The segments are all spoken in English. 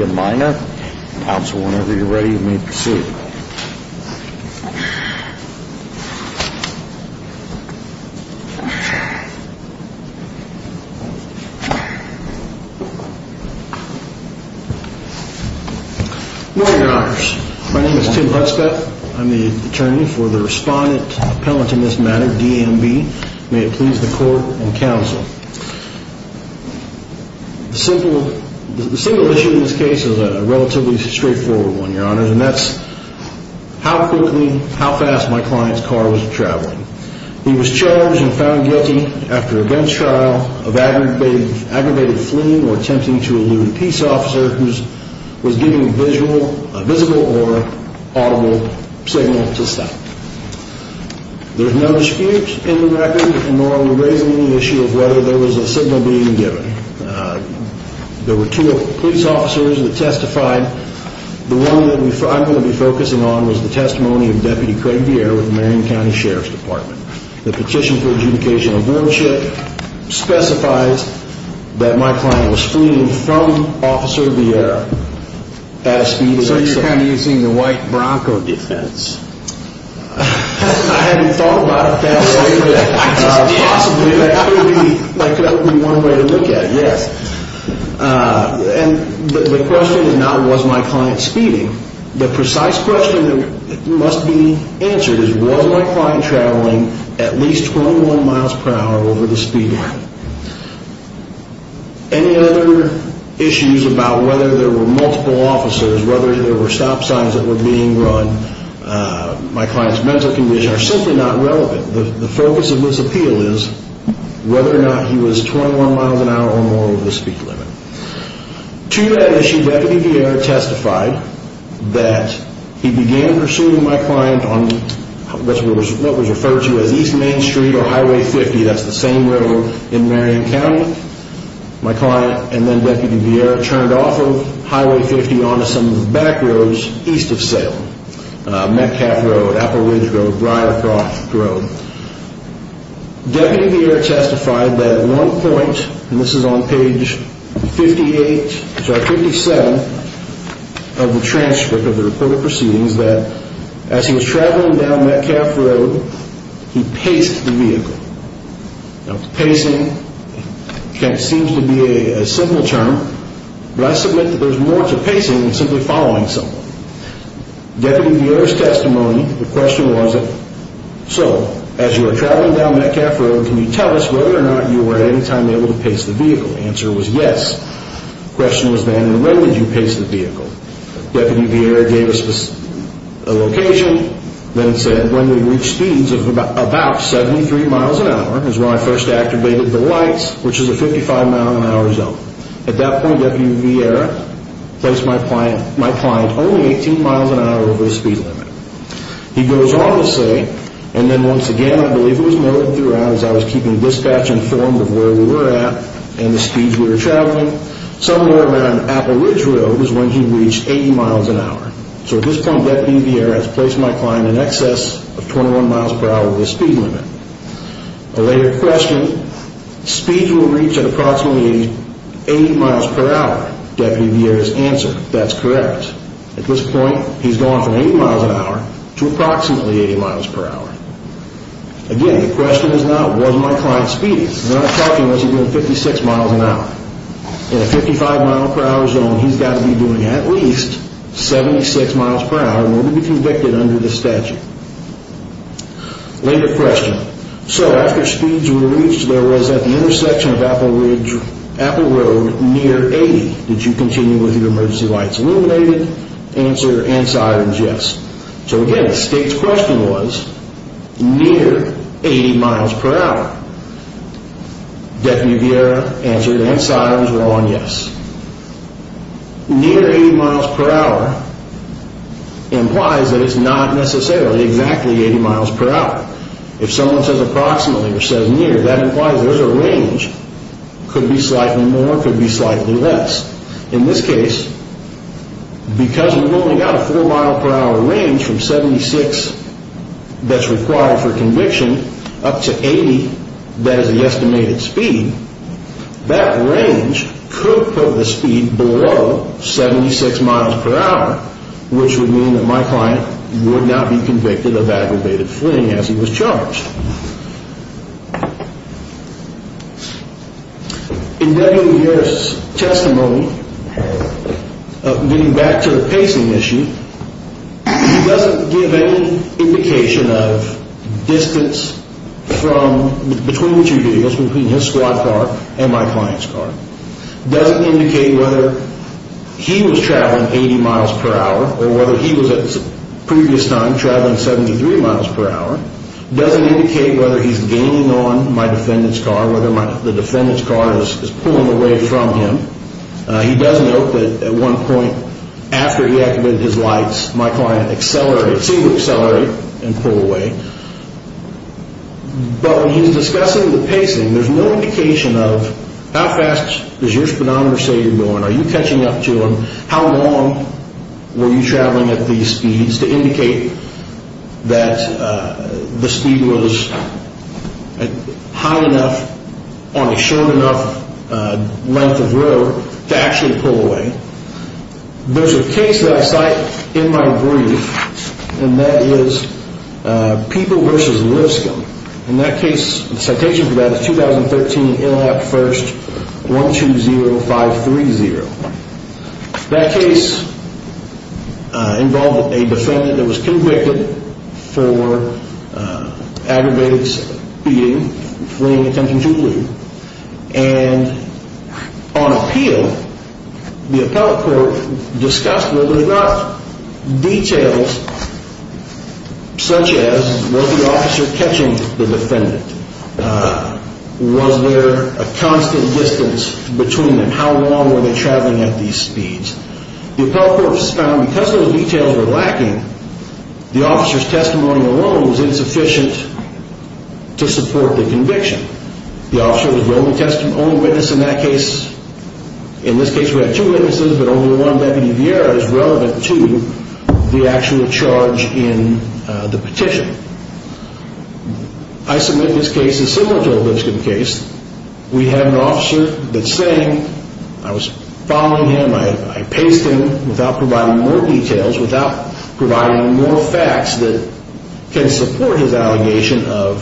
and Minor. Counsel, whenever you're ready, you may proceed. Your Honors, my name is Tim Hutzka. I'm the attorney for the Respondent Appellant in this matter, D.M.B. May it please the Court and Counsel. The single issue in this case is a relatively straightforward one, Your Honors, and that's how quickly, how fast my client's car was traveling. He was charged and found guilty after a gun trial of aggravated fleeing or attempting to elude a peace officer who was giving a visible or audible signal to him. There were two police officers that testified. The one that I'm going to be focusing on was the testimony of Deputy Craig Vieira with the Marion County Sheriff's Department. The Petition for Adjudication of Burnship specifies that my client was fleeing from Officer Vieira. So you're kind of using the white bronco defense. I hadn't thought about that way, but possibly that could be one way to look at it, yes. And the question is not was my client speeding. The precise question that must be answered is was my client traveling at least 21 miles per hour over the speed limit. Any other issues about whether there were multiple officers, whether there were stop signs that were being run, my client's mental condition are simply not relevant. The focus of this appeal is whether or not he was 21 miles an hour or more over the speed limit. To that issue, Deputy Vieira testified that he began pursuing my client on what was referred to as East Main Street or Highway 50. That's the same road in Marion County. My client and then Deputy Vieira turned off Highway 50 onto some of the back roads east of Salem. Metcalf Road, Apple Ridge Road, Briarcroft Road. Deputy Vieira testified that at one point, and this is on page 58, sorry, 57 of the transcript of the reported proceedings, that as he was traveling down Metcalf Road, he paced the vehicle. Now pacing seems to be a simple term, but I submit that there's more to pacing than simply following someone. Deputy Vieira's testimony, the question was so, as you were traveling down Metcalf Road, can you tell us whether or not you were at any time able to pace the vehicle? The answer was yes. The question was then when would you pace the vehicle? Deputy Vieira gave us a location, then said when we reached speeds of about 73 miles an hour is when I first activated the lights, which is a 55 mile an hour zone. At that point, Deputy Vieira placed my client only 18 miles an hour over the speed limit. He goes on to say, and then once again I believe it was noted throughout as I was keeping dispatch informed of where we were at and the speeds we were traveling, somewhere around Apple Ridge Road is when he reached 80 miles an hour. So at this point, Deputy Vieira has placed my client in excess of 21 miles per hour over the speed limit. A later question, speeds were reached at approximately 80 miles per hour. Deputy Vieira's answer, that's correct. At this point, he's gone from 80 miles an hour to approximately 80 miles per hour. Again, the question is not was my client speeding? We're not talking as he's doing 56 miles an hour. In a 55 mile per hour zone, he's got to be doing at least 76 miles per hour in order to be convicted under the statute. Later question, so after speeds were reached, there was at the intersection of Apple Ridge, Apple Road near 80. Did you continue with your emergency lights illuminated? Answer, yes. So again, the state's question was near 80 miles per hour. Deputy Vieira answered and Sire was wrong, yes. Near 80 miles per hour implies that it's not necessarily exactly 80 miles per hour. If someone says approximately or says near, that implies there's a range. Could be slightly more, could be for conviction up to 80, that is the estimated speed. That range could put the speed below 76 miles per hour, which would mean that my client would not be convicted of aggravated fleeing as he was charged. In Deputy Vieira's testimony, getting back to the pacing issue, he doesn't give any indication of distance from, between what you're doing, between his squad car and my client's car. Doesn't indicate whether he was traveling 80 miles per hour or whether he was at a previous time traveling 73 miles per hour. Doesn't indicate whether he's gaining on my defendant's car, whether the defendant's car is pulling away from him. He does note that at one point after he activated his lights, my client accelerated, seemed to accelerate and pull away. But when he's discussing the pacing, there's no indication of how fast does your speedometer say you're going, are you catching up to him, how long were you traveling at these speeds to indicate that the speed was high enough on a short enough length of road to actually pull away. There's a case that I cite in my brief, and that is Peeble v. Lipscomb. And that case, the citation for that is 2013 ILL Act 1st 120530. That case involved a defendant that was convicted for aggravated speeding, fleeing and attempting to flee. And on appeal, the appellate court discussed whether or not details such as was the officer catching the defendant, was there a constant distance between them, how long were they traveling at these speeds. The appellate court found because those details were lacking, the officer's testimony alone was insufficient to support the conviction. The officer was the only witness in that case. In this case we had two witnesses, but only one, Deputy Vieira, is relevant to the actual charge in the petition. I submit this case is similar to a Lipscomb case. We had an officer that sang, I was following him, I paced him without providing more details, without providing more facts that can support his allegation of,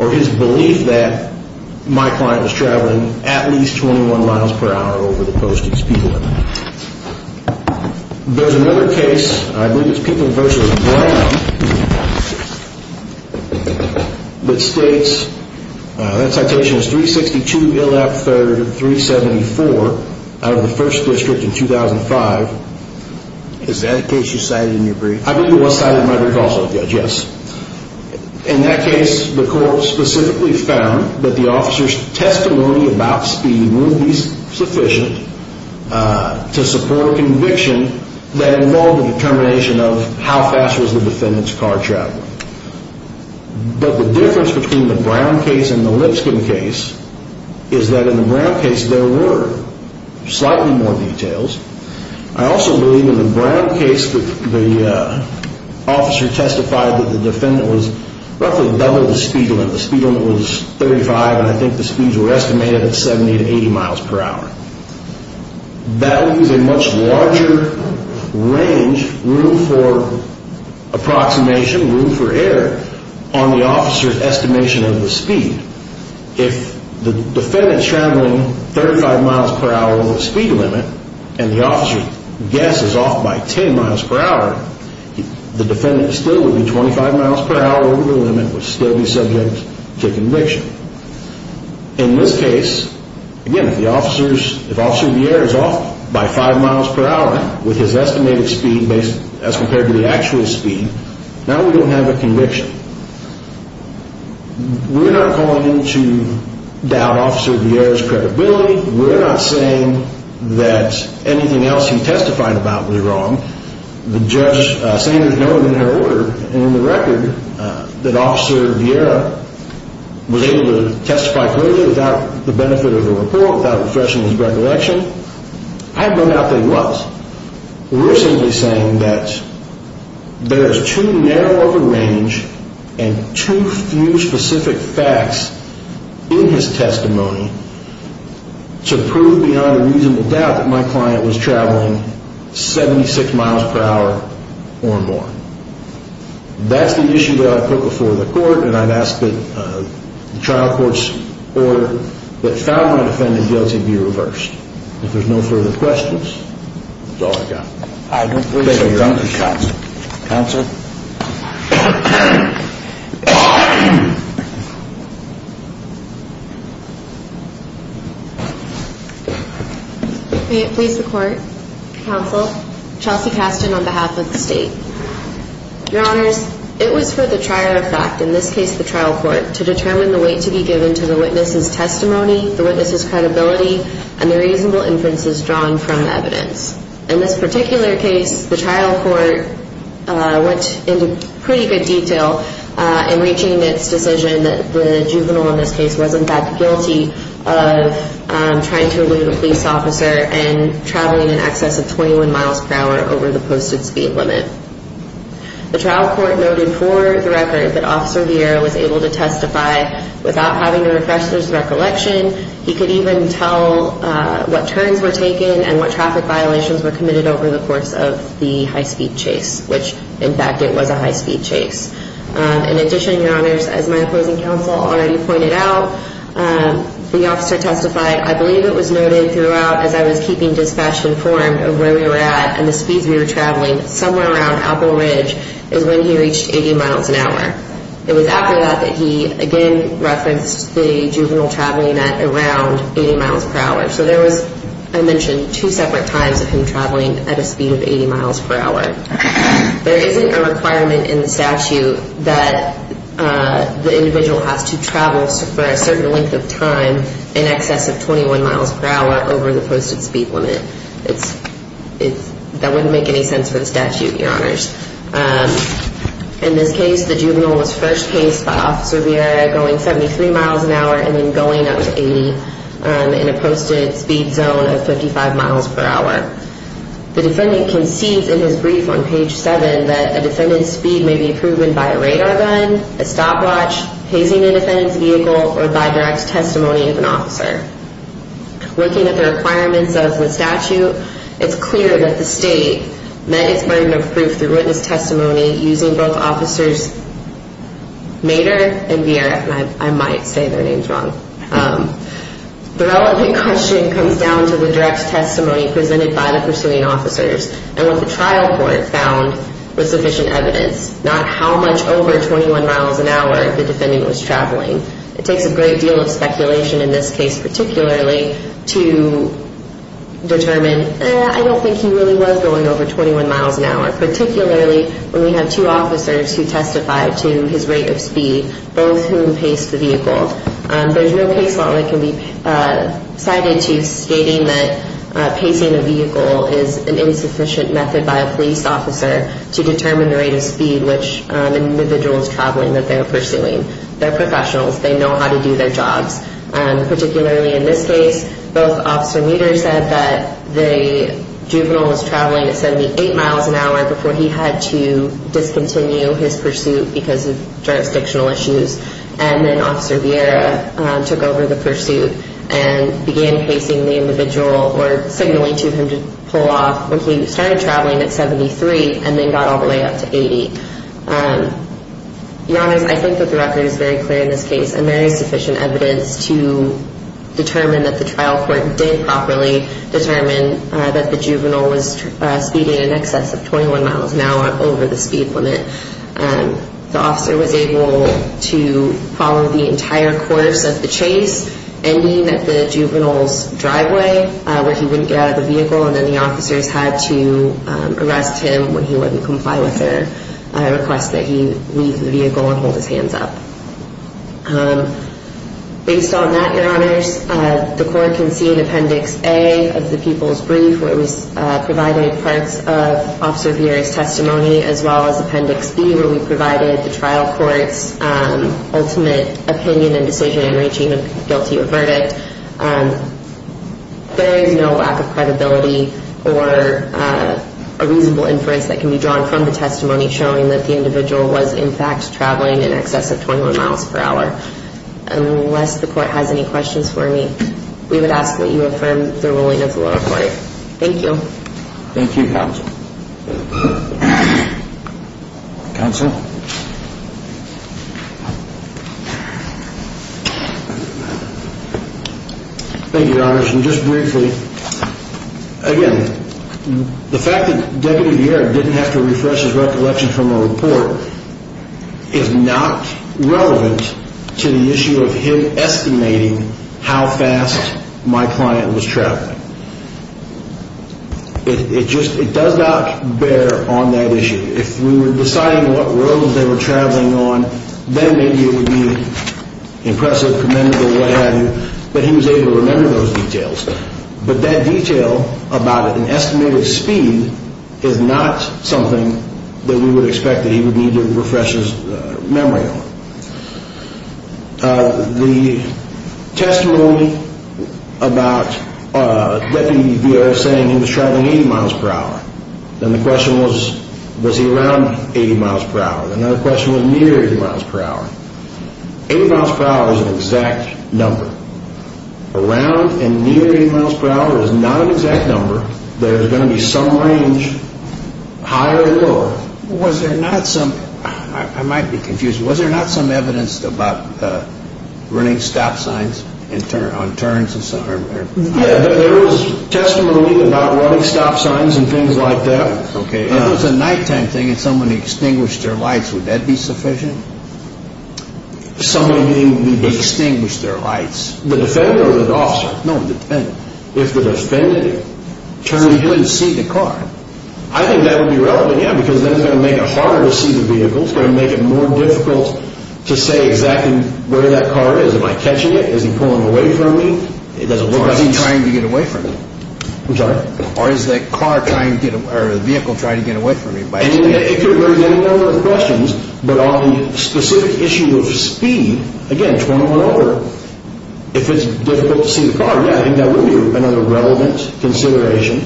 or his belief that my client was traveling at least 21 miles per hour over the posted speed limit. There's another case, I believe it's Peeble v. Brown, that states, that citation is 362 Illap 3rd 374 out of the 1st District in 2005. Is that a case you cited in your brief? I believe it was cited in my brief also, Judge, yes. In that case, the court specifically found that the officer's testimony about speeding wouldn't be sufficient to support a conviction that involved a determination of how fast was the defendant's car traveling. But the difference between the Brown case and the Lipscomb case is that in the Brown case there were slightly more details. I also believe in the Brown case the officer testified that the defendant was roughly double the speed limit. The speed limit was 35 and I think the speeds were estimated at 70 to 80 miles per hour. That leaves a much larger range, room for approximation, room for error, on the officer's estimation of the speed. If the defendant's traveling 35 miles per hour over the speed limit and the officer guesses off by 10 miles per hour, the defendant still would be 25 miles per hour over the limit and would still be subject to conviction. In this case, again, if the officer's, if the defendant's traveling 35 miles per hour over the speed limit and the officer guesses as compared to the actual speed, now we don't have a conviction. We're not calling into doubt Officer Vieira's credibility. We're not saying that anything else he testified about was wrong. The judge said there's no inherent order in the record that Officer Vieira was able to testify clearly without the benefit of the report, without refreshing his recollection. I have no doubt that he was. We're simply saying that there's too narrow of a range and too few specific facts in his testimony to prove beyond a reasonable doubt that my client was traveling 76 miles per hour or more. That's the issue that I 've asked that the trial court's order that found my defendant guilty be reversed. If there's no further questions, that's all I've got. I don't believe so, Your Honor. Thank you, Counsel. Counsel? May it please the Court, Counsel, Chelsea Casten on behalf of the State. Your Honors, it was for the trier of fact, in this case the trial court, to determine the weight to be given to the witness's testimony, the witness's credibility, and the reasonable inferences drawn from the evidence. In this particular case, the trial court went into pretty good detail in reaching its decision that the juvenile in this case was, in fact, guilty of trying to elude a police officer and traveling in excess of 21 miles per hour over the posted speed limit. The trial court noted for the record that Officer Viera was able to testify without having to refresh his recollection. He could even tell what turns were taken and what traffic violations were committed over the course of the high-speed chase, which in fact, it was a high-speed chase. In addition, Your Honors, as my opposing counsel already pointed out, the officer testified, I believe it was noted throughout as I was keeping dispatch informed of where we were at and the speeds we were traveling, somewhere around Apple Ridge is when he reached 80 miles an hour. It was after that that he again referenced the juvenile traveling at around 80 miles per hour. So there was, I mentioned, two separate times of him traveling at a speed of 80 miles per hour. There isn't a requirement in the statute that the individual has to travel for a certain length of time in excess of 21 miles per hour over the posted speed limit. That wouldn't make any sense for the statute, Your Honors. In this case, the juvenile was first chased by Officer Viera going 73 miles an hour and then going up to 80 in a posted speed zone of 55 miles per hour. The defendant concedes in his brief on page 7 that a defendant's speed may be proven by a radar gun, a stopwatch, hazing a defendant's vehicle, or by direct testimony of an officer. Looking at the requirements of the statute, it's clear that the state met its burden of proof through witness testimony using both Officers Mader and Viera. I might say their names wrong. The relevant question comes down to the direct testimony presented by the pursuing officers and what the trial court found was sufficient evidence, not how much over 21 miles an hour the defendant was traveling. It takes a great deal of speculation in this case particularly to determine, eh, I don't think he really was going over 21 miles an hour, particularly when we have two officers who testify to his rate of speed, both whom paced the vehicle. There's no case that can be cited to stating that pacing a vehicle is an insufficient method by a police officer to determine the rate of speed which an individual is traveling that they're pursuing. They're professionals. They know how to do their jobs. Particularly in this case, both Officer Mader said that the juvenile was traveling at 78 miles an hour before he had to discontinue his pursuit because of jurisdictional issues and then Officer Viera took over the pursuit and began pacing the individual or signaling to him to pull off when he started traveling at 73 and then got all the way up to 80. In other words, I think that the record is very clear in this case and there is sufficient evidence to determine that the trial court did properly determine that the juvenile was speeding in excess of 21 miles an hour over the speed limit. The officer was able to follow the entire course of the chase, ending at the juvenile's driveway where he wouldn't get out of the vehicle and then the officers had to arrest him when he wouldn't comply with their request that he leave the vehicle and hold his hands up. Based on that, Your Honors, the court can see in Appendix A of all as Appendix B where we provided the trial court's ultimate opinion and decision in reaching a guilty verdict. There is no lack of credibility or a reasonable inference that can be drawn from the testimony showing that the individual was in fact traveling in excess of 21 miles per hour. Unless the court has any questions for me, we would ask that you affirm the ruling of the lower court. Thank you. Thank you, Counsel. Counsel? Thank you, Your Honors. And just briefly, again, the fact that Deputy Vieira didn't have to refresh his recollection from a report is not relevant to the issue of him estimating how fast my client was traveling. It does not bear on that issue. If we were deciding what roads they were traveling on, then maybe it would be impressive, commendable, what have you, but he was able to remember those details. But that detail about an estimated speed is not something that we would expect that he would need to refresh his memory on. The testimony about Deputy Vieira saying he was traveling 80 miles per hour, then the question was, was he around 80 miles per hour? Another question was near 80 miles per hour. 80 miles per hour is an exact number. Around and near 80 miles per hour is not an exact number. There is going to be some range, higher or lower. Was there not some, I might be confused, was there not some evidence about running stop signs on turns? Yeah, there was testimony about running stop signs and things like that. If it was a nighttime thing and someone extinguished their lights, would that be sufficient? Somebody extinguished their lights? The defendant or the officer? No, the defendant. If the defendant turned and couldn't see the car? I think that would be relevant, yeah, because then it's going to make it harder to see the vehicle. It's going to make it more difficult to say exactly where that car is. Am I catching it? Is he pulling away from me? Or is he trying to get away from you? I'm sorry? Or is the vehicle trying to get away from you? It could raise any number of questions, but on the specific issue of speed, again, 21 over, if it's difficult to see the car, yeah, I think that would be another relevant consideration.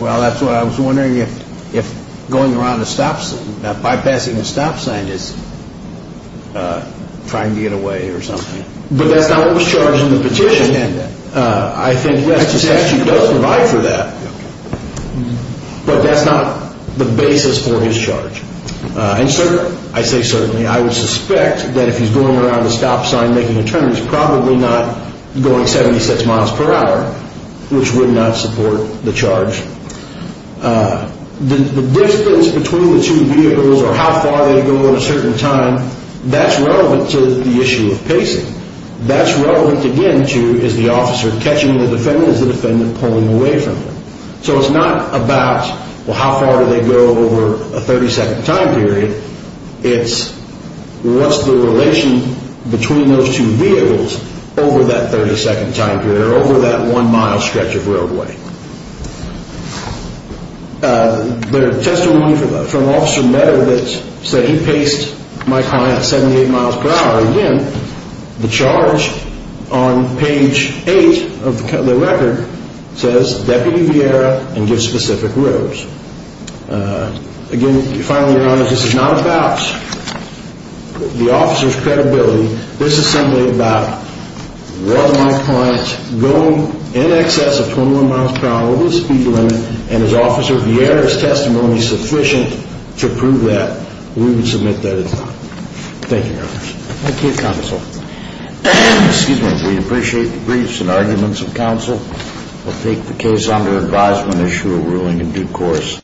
Well, that's what I was wondering, if bypassing a stop sign is trying to get away or something. But that's not what was charged in the petition, and I think Westchester actually does provide for that, but that's not the basis for his charge. And I say certainly. I would suspect that if he's going around a stop sign making a turn, he's probably not going 76 miles per hour, which would not support the charge. The distance between the two vehicles or how far they go at a certain time, that's relevant to the issue of pacing. That's relevant, again, to is the officer catching the defendant? Is the defendant pulling away from him? So it's not about, well, how far do they go over a 30-second time period? It's what's the relation between those two vehicles over that 30-second time period or over that one-mile stretch of roadway? The testimony from Officer Meadow that said he paced my client 78 miles per hour, again, the charge on page 8 of the record says Deputy Vieira and give specific roads. Again, finally, Your Honor, this is not about the officer's credibility. This is simply about was my client going in excess of 21 miles per hour over the speed limit, and is Officer Vieira's testimony sufficient to prove that? We would submit that it's not. Thank you, Your Honor. Thank you, Counsel. Excuse me. We appreciate the briefs and arguments of counsel. We'll take the case under advisement, issue a ruling, and due course.